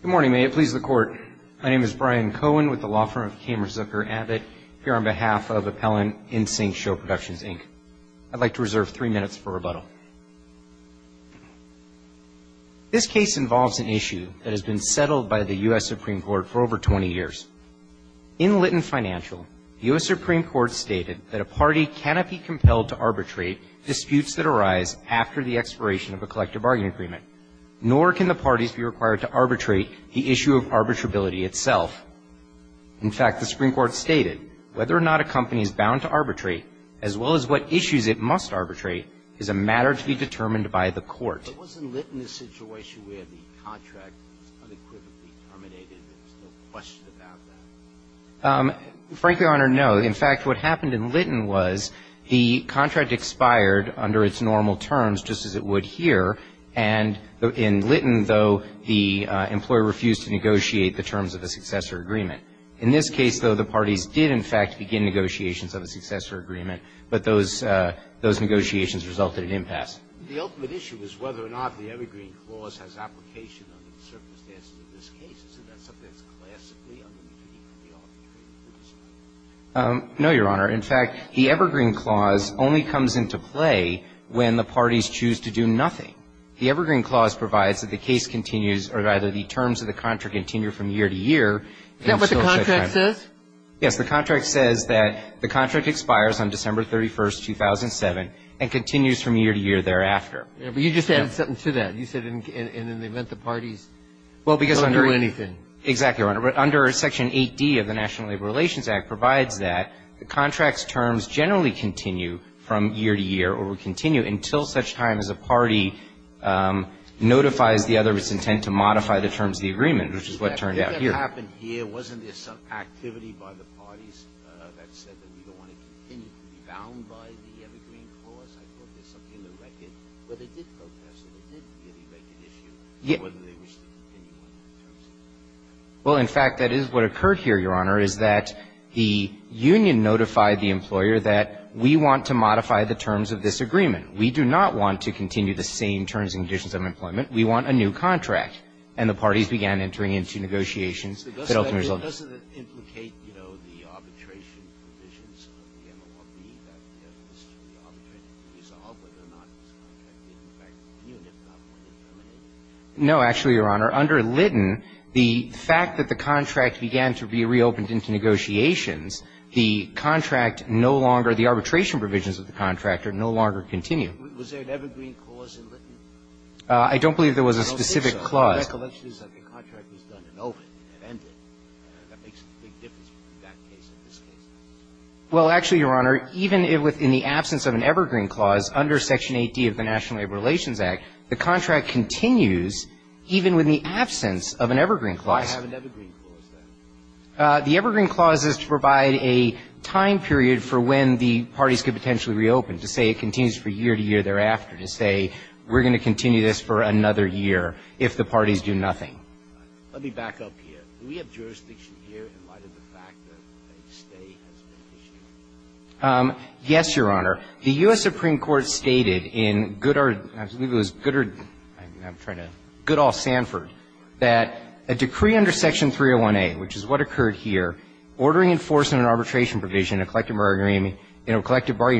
Good morning, may it please the Court. My name is Brian Cohen with the law firm of Kamerzucker Abbott here on behalf of Appellant InSync Show Productions, Inc. I'd like to reserve three minutes for rebuttal. This case involves an issue that has been settled by the U.S. Supreme Court for over 20 years. In Lytton Financial, the U.S. Supreme Court stated that a party cannot be compelled to arbitrate disputes that arise after the expiration of a collective obligation to arbitrate the issue of arbitrability itself. In fact, the Supreme Court stated whether or not a company is bound to arbitrate, as well as what issues it must arbitrate, is a matter to be determined by the Court. But wasn't Lytton a situation where the contract was unequivocally terminated and there was no question about that? Frankly, Your Honor, no. In fact, what happened in Lytton was the contract expired under its normal terms, just as it would here, and in Lytton, though, the employer refused to negotiate the terms of a successor agreement. In this case, though, the parties did, in fact, begin negotiations of a successor agreement, but those negotiations resulted in impasse. The ultimate issue is whether or not the Evergreen Clause has application under the circumstances of this case. Isn't that something that's classically under the duty of the arbitrators? No, Your Honor. In fact, the Evergreen Clause only comes into play when the parties choose to do nothing. The Evergreen Clause provides that the case continues or either the terms of the contract continue from year to year until such time. Is that what the contract says? Yes. The contract says that the contract expires on December 31, 2007 and continues from year to year thereafter. But you just added something to that. You said in the event the parties don't do anything. Exactly, Your Honor. Under Section 8D of the National Labor Relations Act provides that the contract's terms generally continue from year to year or will continue until such time as a party notifies the other of its intent to modify the terms of the agreement, which is what turned out here. If that happened here, wasn't there some activity by the parties that said that we don't want to continue to be bound by the Evergreen Clause? I thought there was something in the record. But they did protest it. There didn't be any record issue whether they wished to continue on the terms of the agreement. Well, in fact, that is what occurred here, Your Honor, is that the union notified the employer that we want to modify the terms of this agreement. We do not want to continue the same terms and conditions of employment. We want a new contract. And the parties began entering into negotiations that ultimately resulted in this. So doesn't it implicate, you know, the arbitration provisions of the MORB that this should be arbitrated to resolve whether or not this contract did, in fact, continue if not wanted to terminate? No, actually, Your Honor. Under Litton, the fact that the contract began to be reopened into negotiations, the contract no longer, the arbitration provisions of the contract no longer continue. Was there an Evergreen Clause in Litton? I don't believe there was a specific clause. No, there's a recollection that the contract was done and opened and ended. That makes a big difference between that case and this case. Well, actually, Your Honor, even within the absence of an Evergreen Clause under Section 8D of the National Labor Relations Act, the contract continues even with the absence of an Evergreen Clause. Why have an Evergreen Clause, then? The Evergreen Clause is to provide a time period for when the parties could potentially reopen, to say it continues for year to year thereafter, to say we're going to continue this for another year if the parties do nothing. Let me back up here. Do we have jurisdiction here in light of the fact that a stay has been issued? Yes, Your Honor. The U.S. Supreme Court stated in Goodall Sanford that a decree under Section 301A, which is what occurred here, ordering enforcement and arbitration provision in a collective bargaining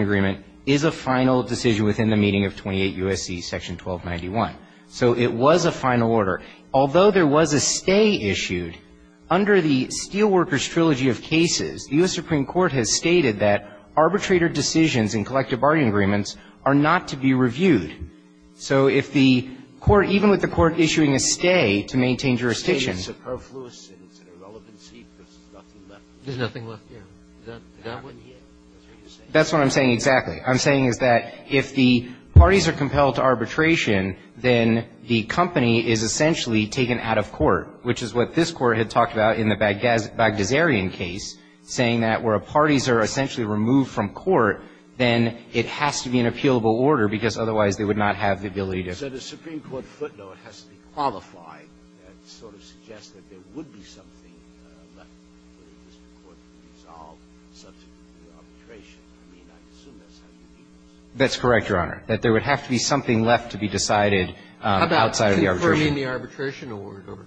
agreement, is a final decision within the meaning of 28 U.S.C. Section 1291. So it was a final order. Although there was a stay issued, under the Steelworkers Trilogy of Cases, the U.S. Supreme Court stated that arbitrator decisions in collective bargaining agreements are not to be reviewed. So if the court, even with the court issuing a stay to maintain jurisdiction It's superfluous and it's an irrelevancy because there's nothing left. There's nothing left, yeah. Is that what you're saying? That's what I'm saying exactly. What I'm saying is that if the parties are compelled to arbitration, then the company is essentially taken out of court, which is what this Court had talked about in the court, then it has to be an appealable order because otherwise they would not have the ability to. So the Supreme Court footnote has to be qualified to sort of suggest that there would be something left for the district court to resolve subject to arbitration. I mean, I assume that's how it's used. That's correct, Your Honor, that there would have to be something left to be decided outside of the arbitration. How about confirming the arbitration order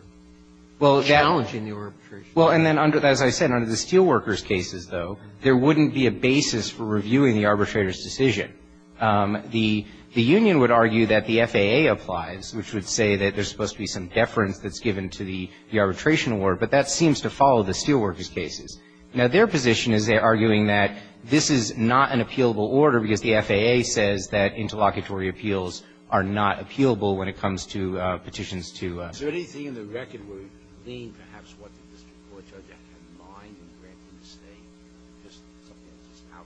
or challenging the arbitration order? Well, and then under, as I said, under the Steelworkers cases, though, there wouldn't be a basis for reviewing the arbitrator's decision. The union would argue that the FAA applies, which would say that there's supposed to be some deference that's given to the arbitration order, but that seems to follow the Steelworkers cases. Now, their position is they're arguing that this is not an appealable order because the FAA says that interlocutory appeals are not appealable when it comes to petitions to a district court. So the district court judge had a mind and granted the state just something that's out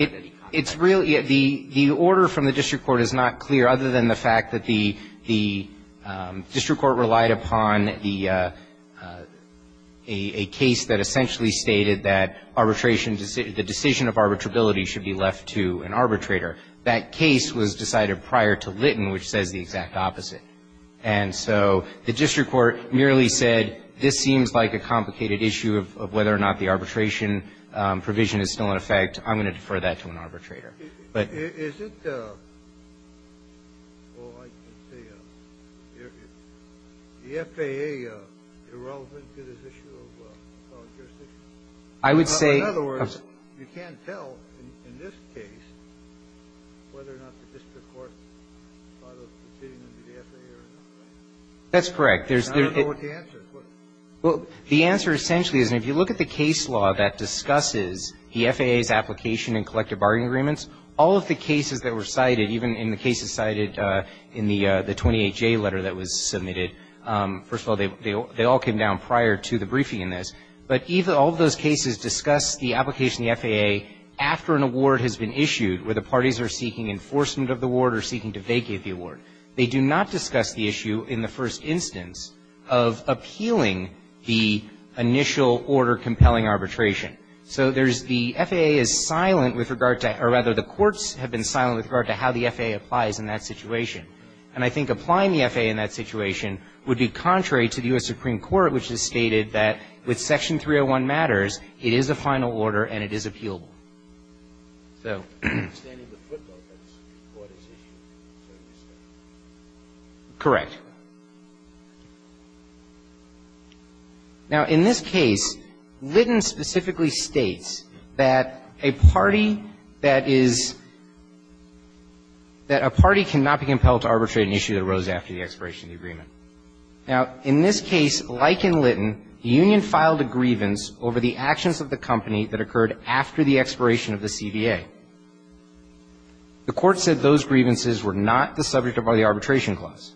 there. It's really the order from the district court is not clear, other than the fact that the district court relied upon the — a case that essentially stated that arbitration — the decision of arbitrability should be left to an arbitrator. That case was decided prior to Litton, which says the exact opposite. And so the district court merely said, this seems like a complicated issue of whether or not the arbitration provision is still in effect. I'm going to defer that to an arbitrator. But — But you can't tell, in this case, whether or not the district court thought of proceeding under the FAA or not, right? That's correct. I don't know what the answer is. Well, the answer essentially is if you look at the case law that discusses the FAA's application in collective bargaining agreements, all of the cases that were cited, even in the cases cited in the 28J letter that was submitted, first of all, they all came down prior to the briefing in this. But all of those cases discuss the application of the FAA after an award has been issued where the parties are seeking enforcement of the award or seeking to vacate the award. They do not discuss the issue in the first instance of appealing the initial order compelling arbitration. So there's the — FAA is silent with regard to — or, rather, the courts have been silent with regard to how the FAA applies in that situation. And I think applying the FAA in that situation would be contrary to the U.S. Supreme Court, which has stated that with Section 301 matters, it is a final order and it is appealable. So — The standing of the footnote, that's what is issued. Correct. Now, in this case, Litton specifically states that a party that is — that a party cannot be compelled to arbitrate an issue that arose after the expiration of the agreement. Now, in this case, like in Litton, the union filed a grievance over the actions of the company that occurred after the expiration of the CVA. The court said those grievances were not the subject of the arbitration clause.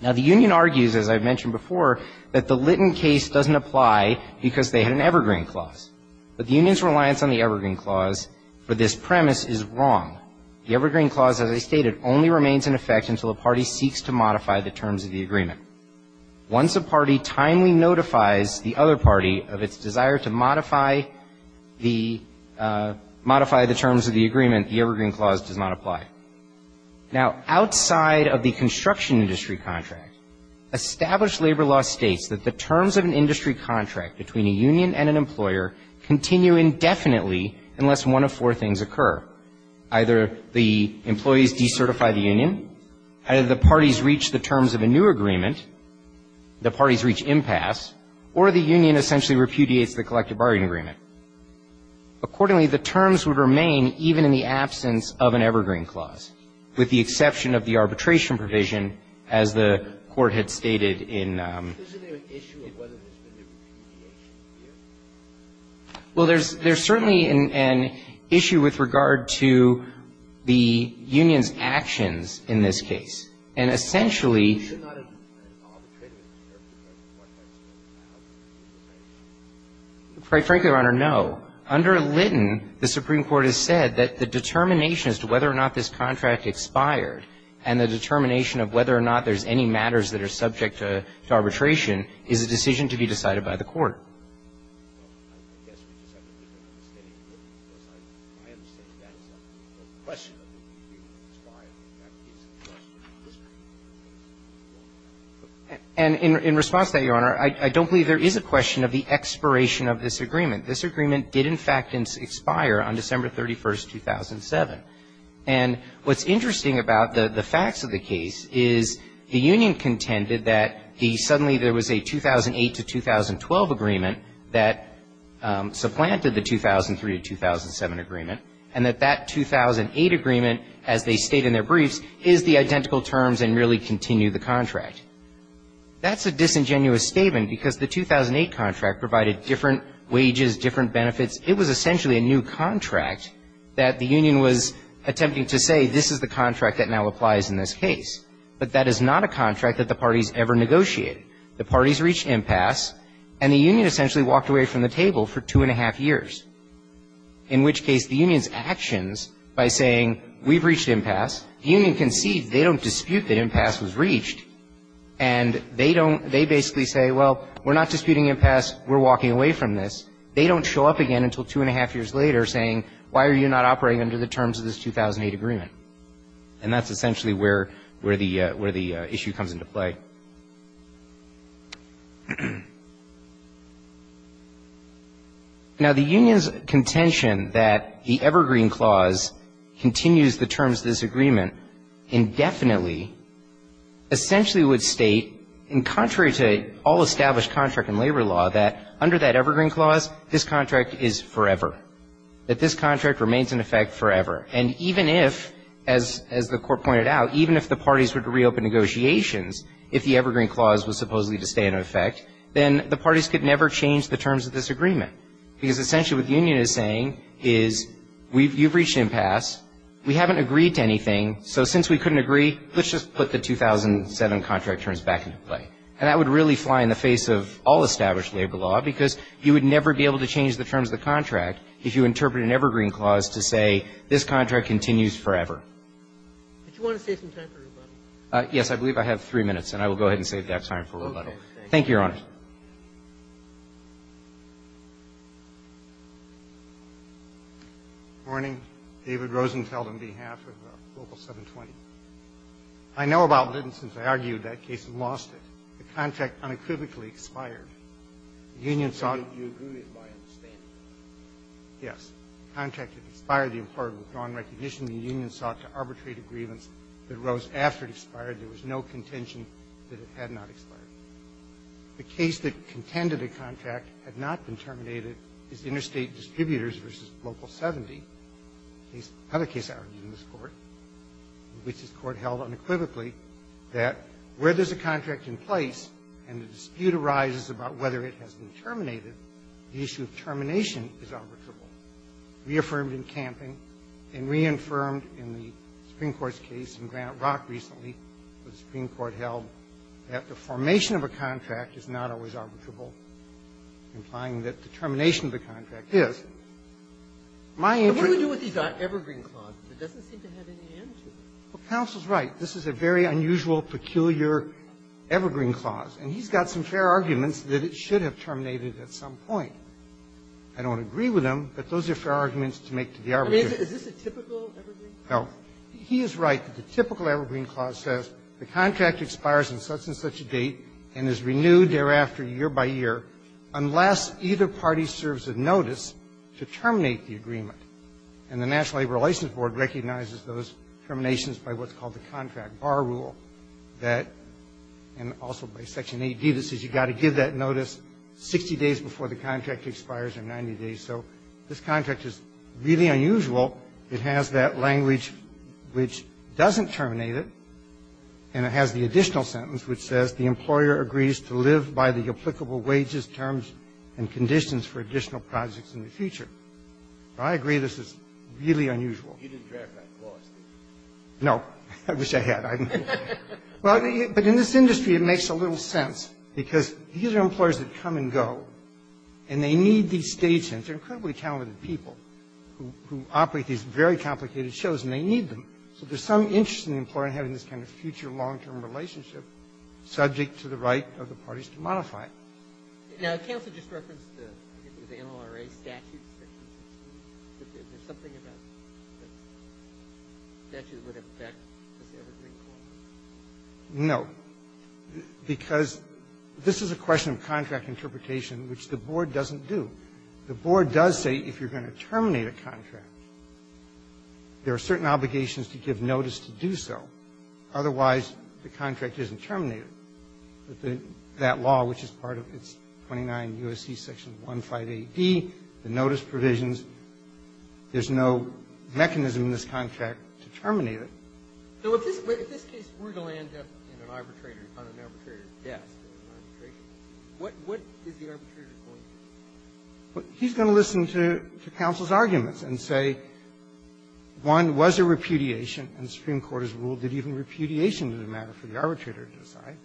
Now, the union argues, as I've mentioned before, that the Litton case doesn't apply because they had an Evergreen clause. But the union's reliance on the Evergreen clause for this premise is wrong. The Evergreen clause, as I stated, only remains in effect until the party seeks to modify the terms of the agreement. Once a party timely notifies the other party of its desire to modify the — modify the terms of the agreement, the Evergreen clause does not apply. Now, outside of the construction industry contract, established labor law states that the terms of an industry contract between a union and an employer continue indefinitely unless one of four things occur. Either the employees decertify the union, either the parties reach the terms of a new agreement, the parties reach impasse, or the union essentially repudiates the collective bargaining agreement. Accordingly, the terms would remain even in the absence of an Evergreen clause, with the exception of the arbitration provision, as the court had stated in — Well, there's — there's certainly an issue with regard to the union's actions in this case. And essentially — It's not an arbitration. It's an arbitration. Quite frankly, Your Honor, no. Under Litton, the Supreme Court has said that the determination as to whether or not this contract expired and the determination of whether or not there's any matters that are subject to arbitration is a decision to be decided by the court. Well, I guess we just have to make an understanding of it, because I understand that as a question of whether the agreement expired. In fact, it's a question of history. And in response to that, Your Honor, I don't believe there is a question of the expiration of this agreement. This agreement did, in fact, expire on December 31, 2007. And what's interesting about the facts of the case is the union contended that the — suddenly there was a 2008 to 2012 agreement that supplanted the 2003 to 2007 agreement, and that that 2008 agreement, as they state in their briefs, is the identical terms and really continued the contract. That's a disingenuous statement, because the 2008 contract provided different wages, different benefits. It was essentially a new contract that the union was attempting to say, this is the contract that now applies in this case. But that is not a contract that the parties ever negotiated. The parties reached impasse, and the union essentially walked away from the table for two and a half years, in which case the union's actions by saying, we've reached impasse, the union concedes they don't dispute that impasse was reached, and they don't — they basically say, well, we're not disputing impasse, we're walking away from this. They don't show up again until two and a half years later saying, why are you not operating under the terms of this 2008 agreement? And that's essentially where the issue comes into play. Now, the union's contention that the Evergreen Clause continues the terms of this agreement indefinitely essentially would state, in contrary to all established contract and labor law, that under that Evergreen Clause, this contract is forever. That this contract remains in effect forever. And even if, as the court pointed out, even if the parties were to reopen negotiations, if the Evergreen Clause was supposedly to stay in effect, then the parties could never change the terms of this agreement. Because essentially what the union is saying is, you've reached impasse, we haven't agreed to anything, so since we couldn't agree, let's just put the 2007 contract terms back into play. And that would really fly in the face of all established labor law, because you would never be able to change the terms of the contract if you interpret an Evergreen Clause to say this contract continues forever. Do you want to save some time for rebuttal? Yes. I believe I have three minutes, and I will go ahead and save that time for rebuttal. Okay. Thank you, Your Honor. Good morning. David Rosenfeld on behalf of Local 720. I know about Lytton since I argued that case and lost it. The contract unequivocally expired. The union sought to expire the accord of withdrawn recognition. The union sought to arbitrate a grievance that arose after it expired. There was no contention that it had not expired. The case that contended a contract had not been terminated is Interstate Distributors v. Local 70, another case I argued in this Court. Which this Court held unequivocally that where there's a contract in place and a dispute arises about whether it has been terminated, the issue of termination is arbitrable. Reaffirmed in Camping and reaffirmed in the Supreme Court's case in Granite Rock recently where the Supreme Court held that the formation of a contract is not always arbitrable, implying that the termination of the contract is. And what would you do if he got Evergreen Clause? It doesn't seem to have any answer. Counsel's right. This is a very unusual, peculiar Evergreen Clause. And he's got some fair arguments that it should have terminated at some point. I don't agree with him, but those are fair arguments to make to the arbitrator. I mean, is this a typical Evergreen Clause? No. He is right. The typical Evergreen Clause says the contract expires on such and such a date and is renewed thereafter year by year unless either party serves a notice to terminate the agreement. And the National Labor Relations Board recognizes those terminations by what's called the contract bar rule that, and also by Section 8b, that says you've got to give that notice 60 days before the contract expires or 90 days. So this contract is really unusual. It has that language which doesn't terminate it, and it has the additional sentence which says the employer agrees to live by the applicable wages, terms, and conditions for additional projects in the future. I agree this is really unusual. You didn't draft that clause, did you? No. I wish I had. I didn't. But in this industry, it makes a little sense, because these are employers that come and go, and they need these stagehands. They're incredibly talented people who operate these very complicated shows, and they need them. So there's some interest in the employer having this kind of future long-term relationship subject to the right of the parties to modify it. Now, counsel just referenced the NLRA statute section. Is there something about that statute that would affect this evergreen clause? No, because this is a question of contract interpretation, which the board doesn't do. The board does say if you're going to terminate a contract, there are certain obligations to give notice to do so. Otherwise, the contract isn't terminated. But that law, which is part of its 29 U.S.C. section 158D, the notice provisions, there's no mechanism in this contract to terminate it. So if this case were to land up in an arbitrator's desk, what is the arbitrator going to do? He's going to listen to counsel's arguments and say, one, was there repudiation in the Supreme Court's rule? Did even repudiation matter for the arbitrator to decide?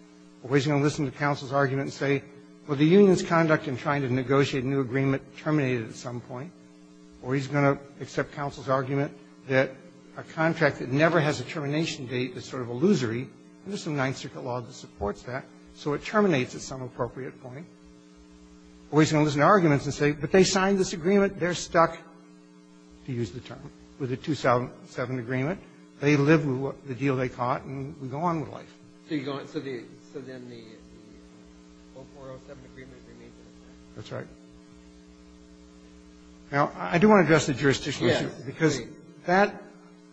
Or he's going to listen to counsel's argument and say, well, the union's conduct in trying to negotiate a new agreement terminated at some point. Or he's going to accept counsel's argument that a contract that never has a termination date is sort of illusory. There's some Ninth Circuit law that supports that. So it terminates at some appropriate point. Or he's going to listen to arguments and say, but they signed this agreement. They're stuck, to use the term, with a 2007 agreement. They live with the deal they caught, and we go on with life. So you go on. So then the 0407 agreement remains in effect. That's right. Now, I do want to address the jurisdictional issue. Yes, please. Because that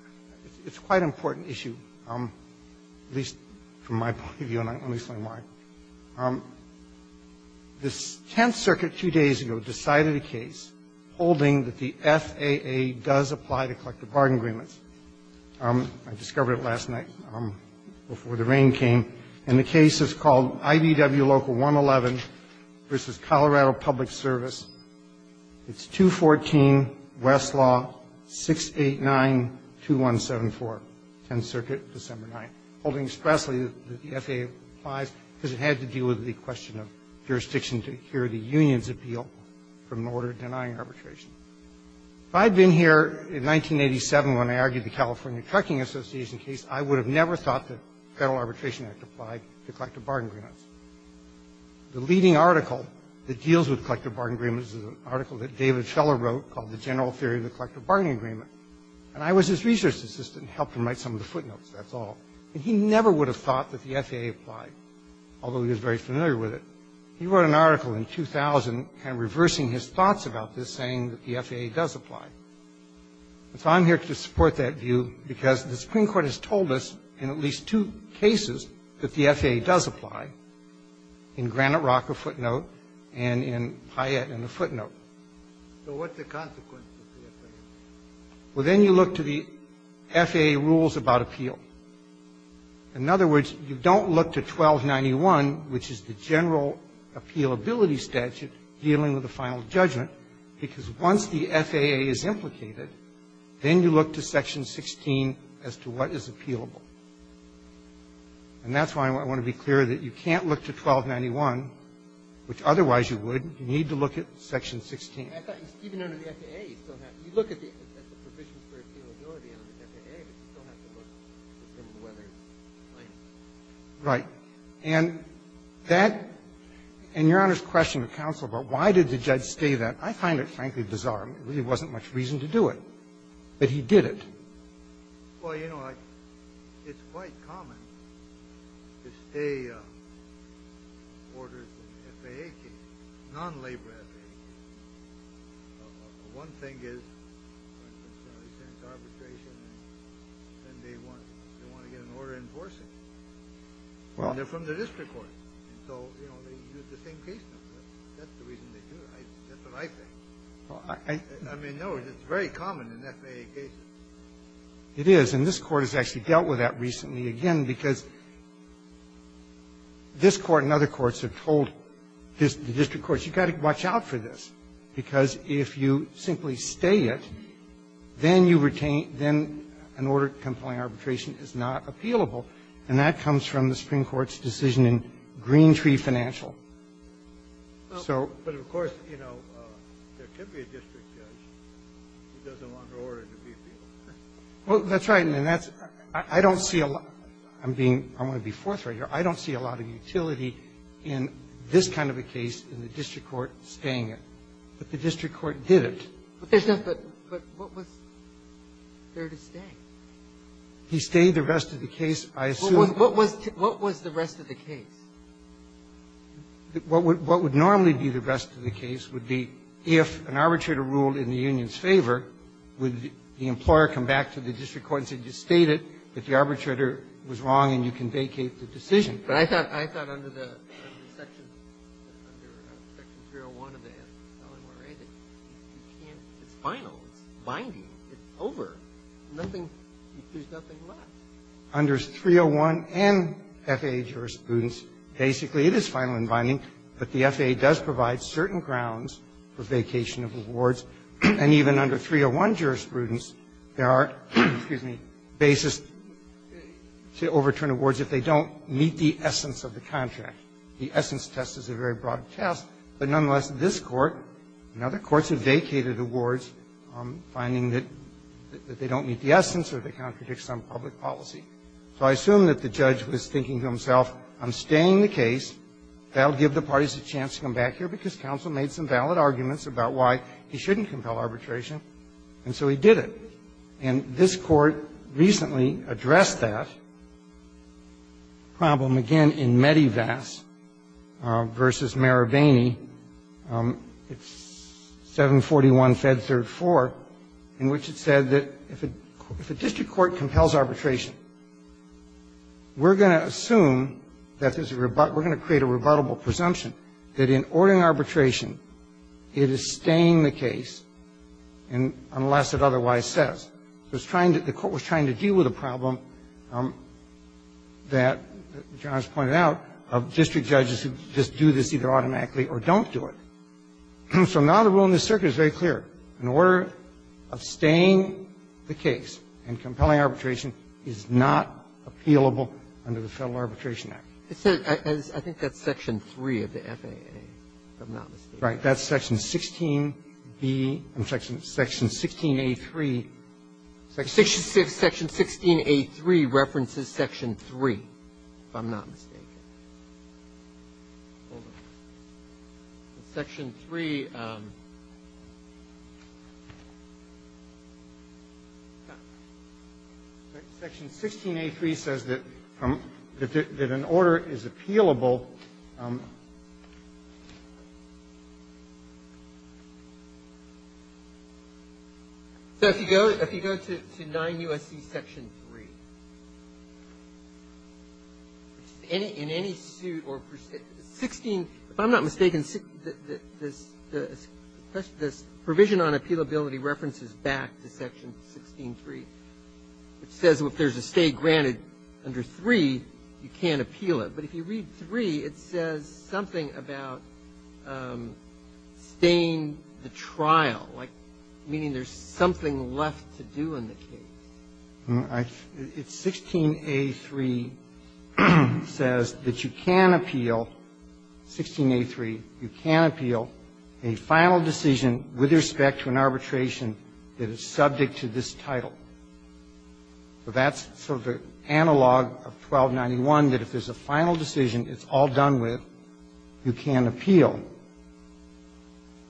– it's a quite important issue, at least from my point of view, and let me explain why. The Tenth Circuit two days ago decided a case holding that the FAA does apply to collective bargain agreements. I discovered it last night before the rain came. And the case is called IDW Local 111 v. Colorado Public Service. It's 214 Westlaw 6892174, Tenth Circuit, December 9th. Holding expressly that the FAA applies because it had to deal with the question of jurisdiction to hear the union's appeal from an order denying arbitration. If I had been here in 1987 when I argued the California Trucking Association case, I would have never thought that the Federal Arbitration Act applied to collective bargain agreements. The leading article that deals with collective bargain agreements is an article that David Scheller wrote called The General Theory of the Collective Bargaining Agreement. And I was his research assistant, helped him write some of the footnotes, that's all. And he never would have thought that the FAA applied, although he was very familiar with it. He wrote an article in 2000 kind of reversing his thoughts about this, saying that the FAA does apply. And so I'm here to support that view because the Supreme Court has told us in at least two cases that the FAA does apply, in Granite Rock, a footnote, and in Hyatt, in a footnote. So what's the consequence of the FAA? Well, then you look to the FAA rules about appeal. In other words, you don't look to 1291, which is the general appealability statute dealing with a final judgment, because once the FAA is implicated, then you look to Section 16 as to what is appealable. And that's why I want to be clear that you can't look to 1291, which otherwise you would. You need to look at Section 16. Even under the FAA, you still have to. You look at the provisions for appealability under the FAA, but you still have to look to determine whether it's plaintiff. Right. And that — and Your Honor's question of counsel about why did the judge stay there, I find it, frankly, bizarre. There really wasn't much reason to do it. But he did it. Well, you know, it's quite common to stay orders in FAA cases, non-labor FAA cases. One thing is arbitration, and they want to get an order enforcing it. And they're from the district court. And so, you know, they use the same case numbers. That's the reason they do it. That's what I think. I mean, no, it's very common in FAA cases. It is. And this Court has actually dealt with that recently, again, because this Court and other courts have told the district courts, you've got to watch out for this, because if you simply stay it, then you retain — then an order-compliant arbitration is not appealable. And that comes from the Supreme Court's decision in Green Tree Financial. So — But of course, you know, there could be a district judge who doesn't want an order to be appealed. Well, that's right. And that's — I don't see a lot — I'm being — I'm going to be forthright here. I don't see a lot of utility in this kind of a case in the district court staying it, but the district court did it. But there's no — but what was there to stay? He stayed the rest of the case, I assume. What was — what was the rest of the case? What would normally be the rest of the case would be if an arbitrator ruled in the union's favor, would the employer come back to the district court and say, you stated that the arbitrator was wrong and you can vacate the decision. But I thought — I thought under the section — under section 301 of the LMRA that you can't — it's final, it's binding, it's over. Nothing — there's nothing left. Under 301 and FAA jurisprudence, basically, it is final and binding, but the FAA does provide certain grounds for vacation of awards. And even under 301 jurisprudence, there are — excuse me — basis to overturn awards if they don't meet the essence of the contract. The essence test is a very broad test, but nonetheless, this Court and other courts have vacated awards finding that they don't meet the essence or they contradict some public policy. So I assume that the judge was thinking to himself, I'm staying the case, that will give the parties a chance to come back here because counsel made some valid arguments about why he shouldn't compel arbitration, and so he did it. And this Court recently addressed that problem again in Medivac v. Marabini. It's 741 Fed 3rd 4th, in which it said that if a district court compels arbitration, we're going to assume that there's a — we're going to create a rebuttable presumption that in ordering arbitration, it is staying the case unless it otherwise says. So it's trying to — the Court was trying to deal with a problem that John has pointed out of district judges who just do this either automatically or don't do it. So now the rule in this circuit is very clear. In order of staying the case and compelling arbitration is not appealable under the Federal Arbitration Act. It says — I think that's section 3 of the FAA, if I'm not mistaken. Right. That's section 16b and section 16a3. Section 16a3 references section 3, if I'm not mistaken. Section 3, section 16a3 says that an order is appealable, and it's not appealable under section 16a3. So if you go to 9 U.S.C. section 3, in any suit or — 16 — if I'm not mistaken, this provision on appealability references back to section 16a3, which says if there's a stay granted under 3, you can't appeal it. But if you read 3, it says something about staying the trial, like meaning there's something left to do in the case. It's 16a3 says that you can appeal, 16a3, you can appeal a final decision with respect to an arbitration that is subject to this title. So that's sort of the analog of 1291, that if there's a final decision, it's all done with, you can appeal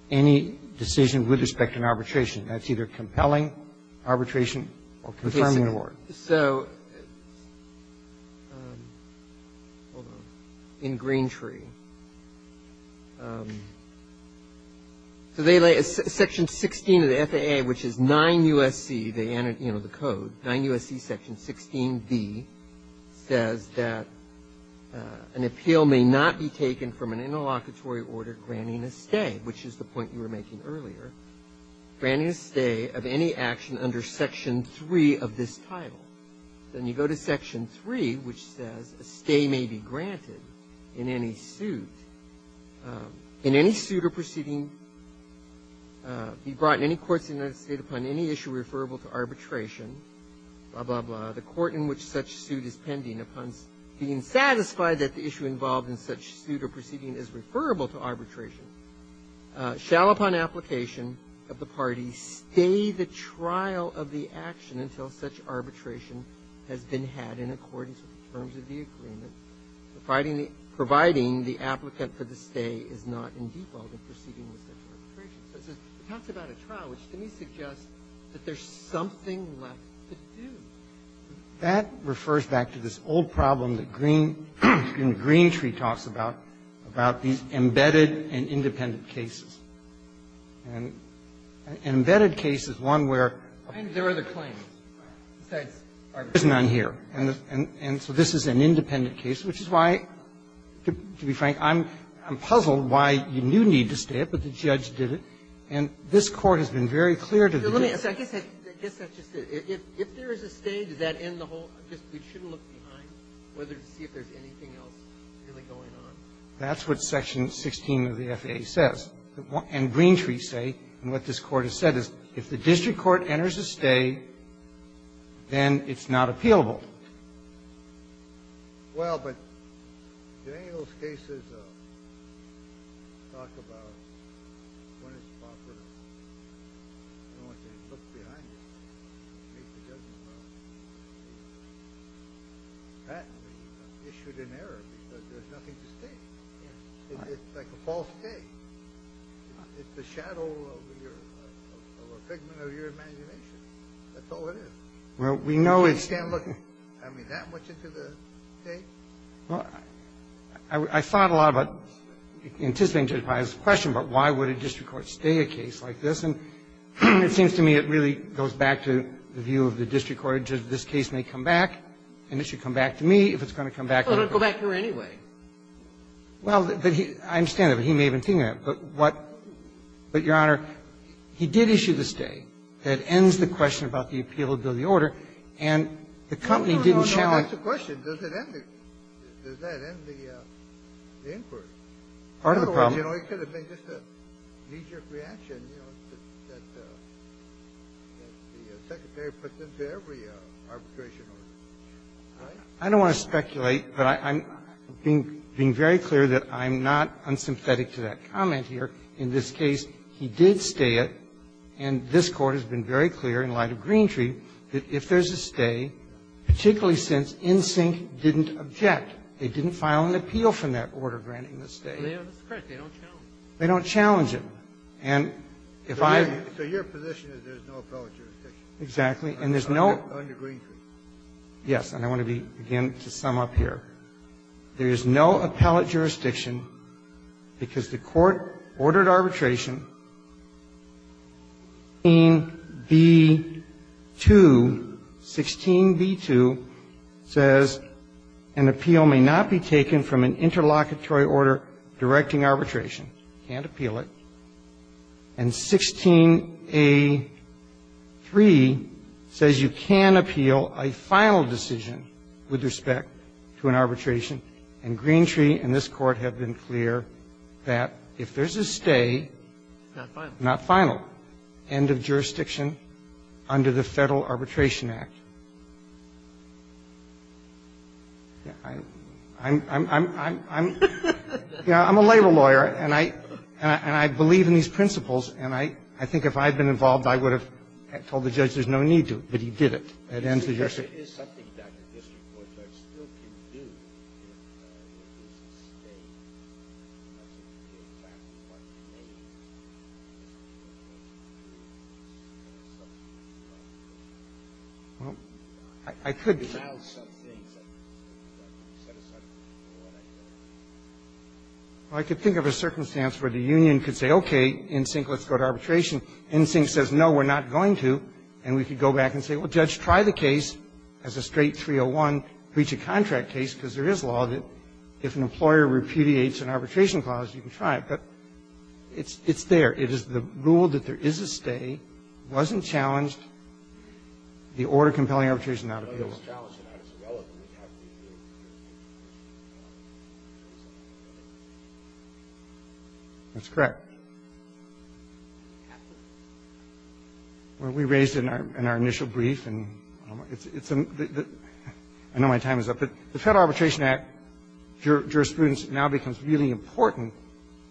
any decision with respect to an arbitration. That's either compelling arbitration or confirming an order. So — hold on — in Greentree, so they lay — section 16 of the FAA, which is 9 U.S.C., the code, 9 U.S.C. section 16b says that an appeal may not be taken from an interlocutory order granting a stay, which is the point you were making earlier. Granting a stay of any action under section 3 of this title. Then you go to section 3, which says a stay may be granted in any suit — in any suit or proceeding — be brought in any courts in the United States upon any issue referable to arbitration, blah, blah, blah, the court in which such suit is pending, upon being satisfied that the issue involved in such suit or proceeding is referable to arbitration, shall upon application of the party stay the trial of the action until such arbitration has been had in accordance with the terms of the agreement, providing the applicant for the stay is not in default in proceeding with such arbitration. So it talks about a trial, which to me suggests that there's something left to do. That refers back to this old problem that Green — in Greentree talks about, about these embedded and independent cases. And an embedded case is one where — I think there are other claims besides arbitration. There's none here. And so this is an independent case, which is why, to be frank, I'm puzzled why you knew you needed to stay it, but the judge did it. And this Court has been very clear to the judge. Ginsburg. So I guess that's just it. If there is a stay, does that end the whole — we shouldn't look behind to see if there's anything else really going on? That's what section 16 of the FAA says. And Greentree say, and what this Court has said, is if the district court enters a stay, then it's not appealable. Well, but in any of those cases, talk about when it's proper to look behind you, make the judgment about it. That is issued in error, because there's nothing to state. It's like a false state. It's the shadow of your — of a pigment of your imagination. That's all it is. Well, we know it's — I mean, that much into the case? Well, I thought a lot about, anticipating Judge Breyer's question, but why would a district court stay a case like this? And it seems to me it really goes back to the view of the district court. This case may come back, and it should come back to me if it's going to come back to the district court. Well, it'll go back to her anyway. Well, but he — I understand that, but he may have been thinking that. But what — but, Your Honor, he did issue the stay. That ends the question about the appealability order, and the company didn't challenge the question. No, no, no, no, that's the question. Does it end the — does that end the inquiry? Part of the problem. Otherwise, you know, it could have been just a knee-jerk reaction, you know, that the Secretary puts into every arbitration order, right? I don't want to speculate, but I'm being very clear that I'm not unsympathetic to that comment here. In this case, he did stay it, and this Court has been very clear in light of Greentree that if there's a stay, particularly since NSYNC didn't object, they didn't file an appeal from that order granting the stay. They don't challenge it. And if I — So your position is there's no appellate jurisdiction? Exactly. And there's no — Under Greentree? Yes. And I want to be — again, to sum up here. There is no appellate jurisdiction because the Court ordered arbitration 16b2 — 16b2 says an appeal may not be taken from an interlocutory order directing arbitration. You can't appeal it. And 16a3 says you can appeal a final decision with respect to an arbitration. And Greentree and this Court have been clear that if there's a stay — Not final. Not final. End of jurisdiction under the Federal Arbitration Act. I'm — I'm a labor lawyer, and I believe in these principles, and I think if I had been involved, I would have told the judge there's no need to, but he did it. It ends the jurisdiction. Well, I could think of a circumstance where the union could say, okay, NSYNC, let's go to arbitration. NSYNC says, no, we're not going to, and we could go back and say, well, judge, try the case as a straight 301, reach a contract case, because there is law that if an employer repudiates an arbitration clause, you can try it. But it's — it's there. It is the rule that there is a stay, wasn't challenged, the order compelling arbitration not appealable. That's correct. Well, we raised in our — in our initial brief, and it's — I know my time is up, but the Federal Arbitration Act jurisprudence now becomes really important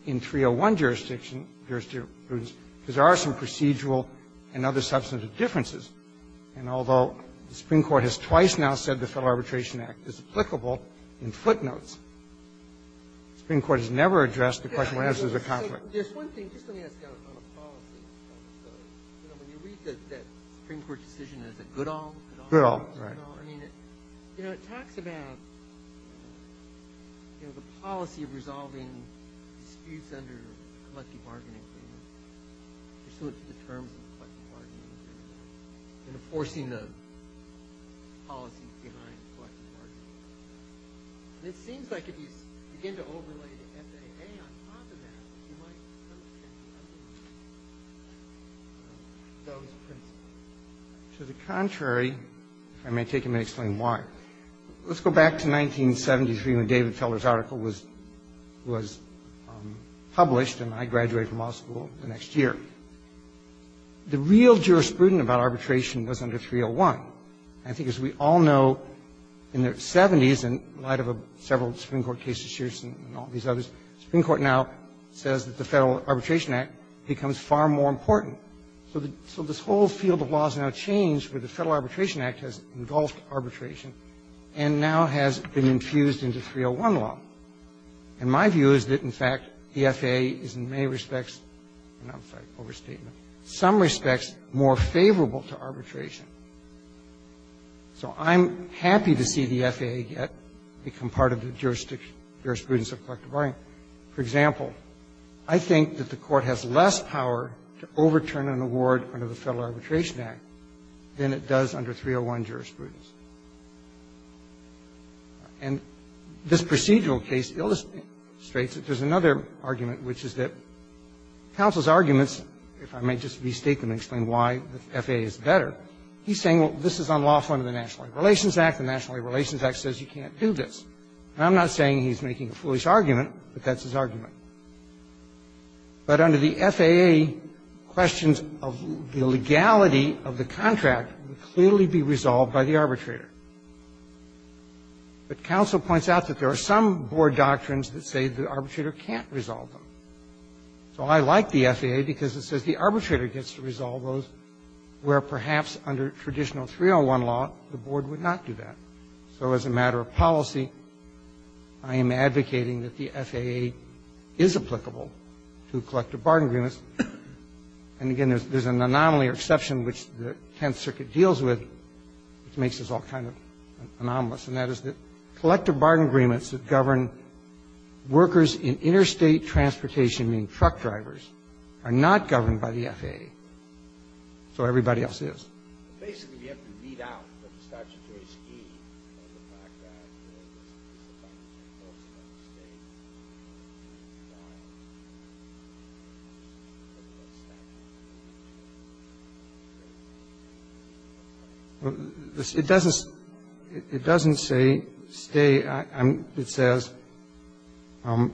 in 301 jurisdiction because there are some procedural and other substantive differences. And although the Supreme Court has twice now said the Federal Arbitration Act is applicable in footnotes, the Supreme Court has never addressed the question of whether there's a conflict. There's one thing, just let me ask you on a policy, when you read that Supreme Court decision as a good-all, good-all, I mean, you know, it talks about, you know, the policy of resolving disputes under collective bargaining agreements, pursuant to the terms of collective bargaining agreements, enforcing the policies behind collective bargaining agreements. And it seems like if you begin to overlay the FAA on top of that, you might contradict those principles. To the contrary, if I may take a minute to explain why, let's go back to 1973 when David Feller's article was — was published, and I graduated from law school the next year. The real jurisprudence about arbitration was under 301. And I think as we all know, in the 70s, in light of several Supreme Court cases, Shearson and all these others, the Supreme Court now says that the Federal Arbitration Act becomes far more important. So this whole field of law has now changed where the Federal Arbitration Act has engulfed arbitration and now has been infused into 301 law. And my view is that, in fact, the FAA is in many respects — I'm sorry, overstatement — in some respects more favorable to arbitration. So I'm happy to see the FAA become part of the jurisprudence of collective bargaining. For example, I think that the Court has less power to overturn an award under the Federal Arbitration Act than it does under 301 jurisprudence. And this procedural case illustrates that there's another argument, which is that counsel's arguments, if I may just restate them and explain why the FAA is better, he's saying, well, this is unlawful under the National Labor Relations Act. The National Labor Relations Act says you can't do this. And I'm not saying he's making a foolish argument, but that's his argument. But under the FAA, questions of the legality of the contract would clearly be resolved by the arbitrator. But counsel points out that there are some board doctrines that say the arbitrator can't resolve them. So I like the FAA because it says the arbitrator gets to resolve those where perhaps under traditional 301 law, the board would not do that. So as a matter of policy, I am advocating that the FAA is applicable to collective bargaining agreements. And again, there's an anomaly or exception which the Tenth Circuit deals with, which makes us all kind of anomalous, and that is that collective bargaining agreements that govern workers in interstate transportation, meaning truck drivers, are not governed by the FAA. So everybody else is. It doesn't say stay. It says you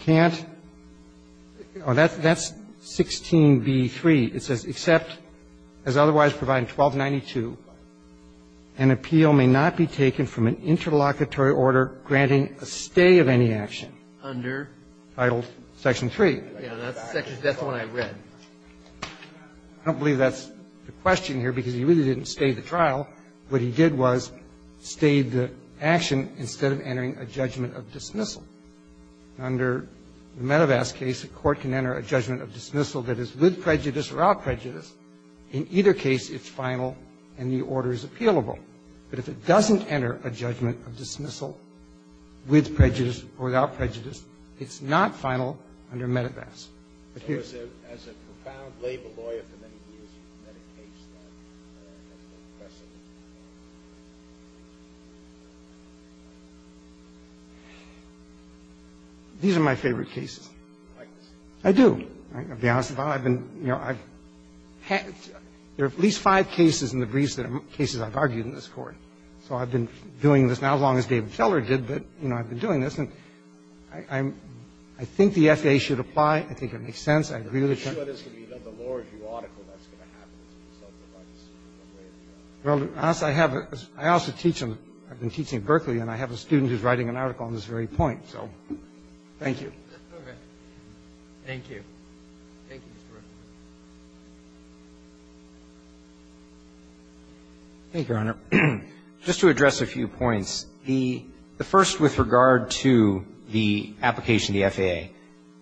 can't – that's 16b3. It says, except as otherwise provided in 1292, an appeal may not be taken from an interlocutory order granting a stay of any action under Title Section 3. I don't believe that's the question here because he really didn't stay the trial. What he did was stay the action instead of entering a judgment of dismissal. Under the Medevas case, a court can enter a judgment of dismissal that is with prejudice or without prejudice. In either case, it's final and the order is appealable. But if it doesn't enter a judgment of dismissal with prejudice or without prejudice, it's not final under Medevas. But here's the question. These are my favorite cases. I do. I'll be honest about it. I've been – there are at least five cases in the briefs that are cases I've argued in this Court. So I've been doing this now as long as David Feller did. But, you know, I've been doing this. And I think the FAA should apply. I think it makes sense. I agree with it. Well, to be honest, I have a – I also teach in – I've been teaching at Berkeley and I have a student who's writing an article on this very point. So thank you. All right. Thank you. Thank you, Mr. Russell. Thank you, Your Honor. Just to address a few points. The first with regard to the application of the FAA.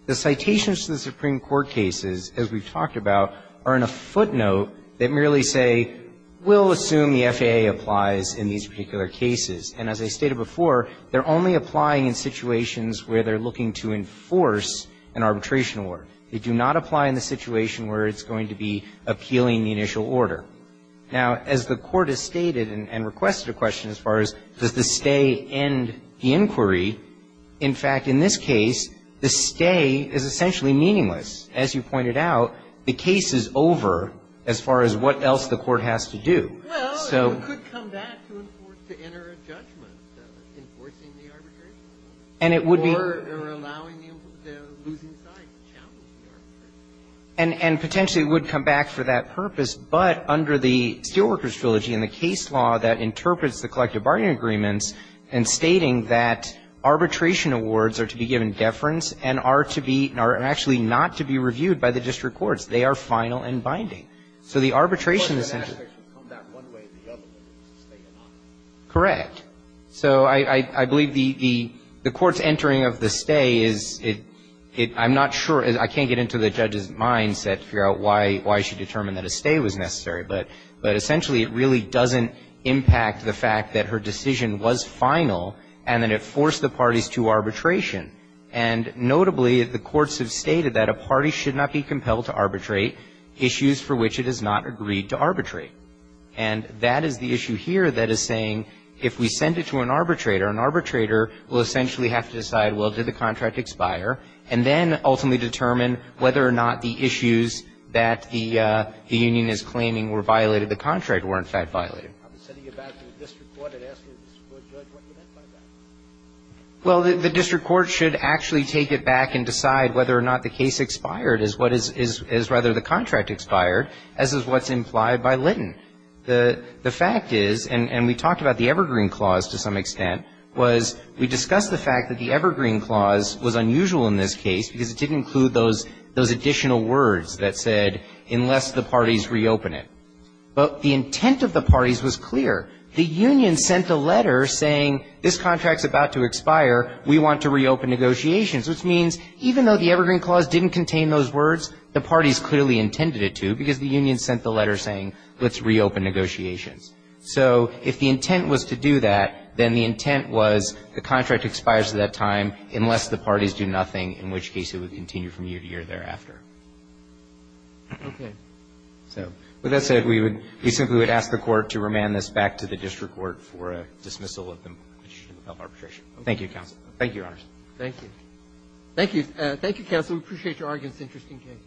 The citations to the Supreme Court cases, as we've talked about, are in a footnote that merely say we'll assume the FAA applies in these particular cases. And as I stated before, they're only applying in situations where they're looking to enforce an arbitration award. They do not apply in the situation where it's going to be appealing the initial order. Now, as the Court has stated and requested a question as far as does the stay end the inquiry. In fact, in this case, the stay is essentially meaningless. As you pointed out, the case is over as far as what else the Court has to do. Well, it could come back to enter a judgment enforcing the arbitration. And it would be – Or allowing the losing side to challenge the arbitration. And potentially it would come back for that purpose, but under the Steelworkers Trilogy and the case law that interprets the collective bargaining agreements and stating that arbitration awards are to be given deference and are to be – are actually not to be reviewed by the district courts. They are final and binding. So the arbitration is essentially – The question is whether it should come back one way or the other, whether it's a stay or not. Correct. So I believe the Court's entering of the stay is – I'm not sure – I can't get into the judge's mindset to figure out why she determined that a stay was necessary, but essentially it really doesn't impact the fact that her decision was final and that it forced the parties to arbitration. And notably, the courts have stated that a party should not be compelled to arbitrate issues for which it has not agreed to arbitrate. And that is the issue here that is saying if we send it to an arbitrator, an arbitrator will essentially have to decide, well, did the contract expire, and then ultimately or not the issues that the union is claiming were violated, the contract were, in fact, violated. I was sending it back to the district court and asking the district court judge what you meant by that. Well, the district court should actually take it back and decide whether or not the case expired is what is – is rather the contract expired, as is what's implied by Litton. The fact is – and we talked about the Evergreen Clause to some extent – was we discussed the fact that the Evergreen Clause was unusual in this case because it didn't include those additional words that said unless the parties reopen it. But the intent of the parties was clear. The union sent a letter saying this contract is about to expire, we want to reopen negotiations, which means even though the Evergreen Clause didn't contain those words, the parties clearly intended it to because the union sent the letter saying let's reopen negotiations. So if the intent was to do that, then the intent was the contract expires at that time unless the parties do nothing, in which case it would continue from year to year thereafter. Okay. So with that said, we would – we simply would ask the Court to remand this back to the district court for a dismissal of arbitration. Thank you, counsel. Thank you, Your Honors. Thank you. Thank you. Thank you, counsel. We appreciate your argument. It's an interesting case. Thank you.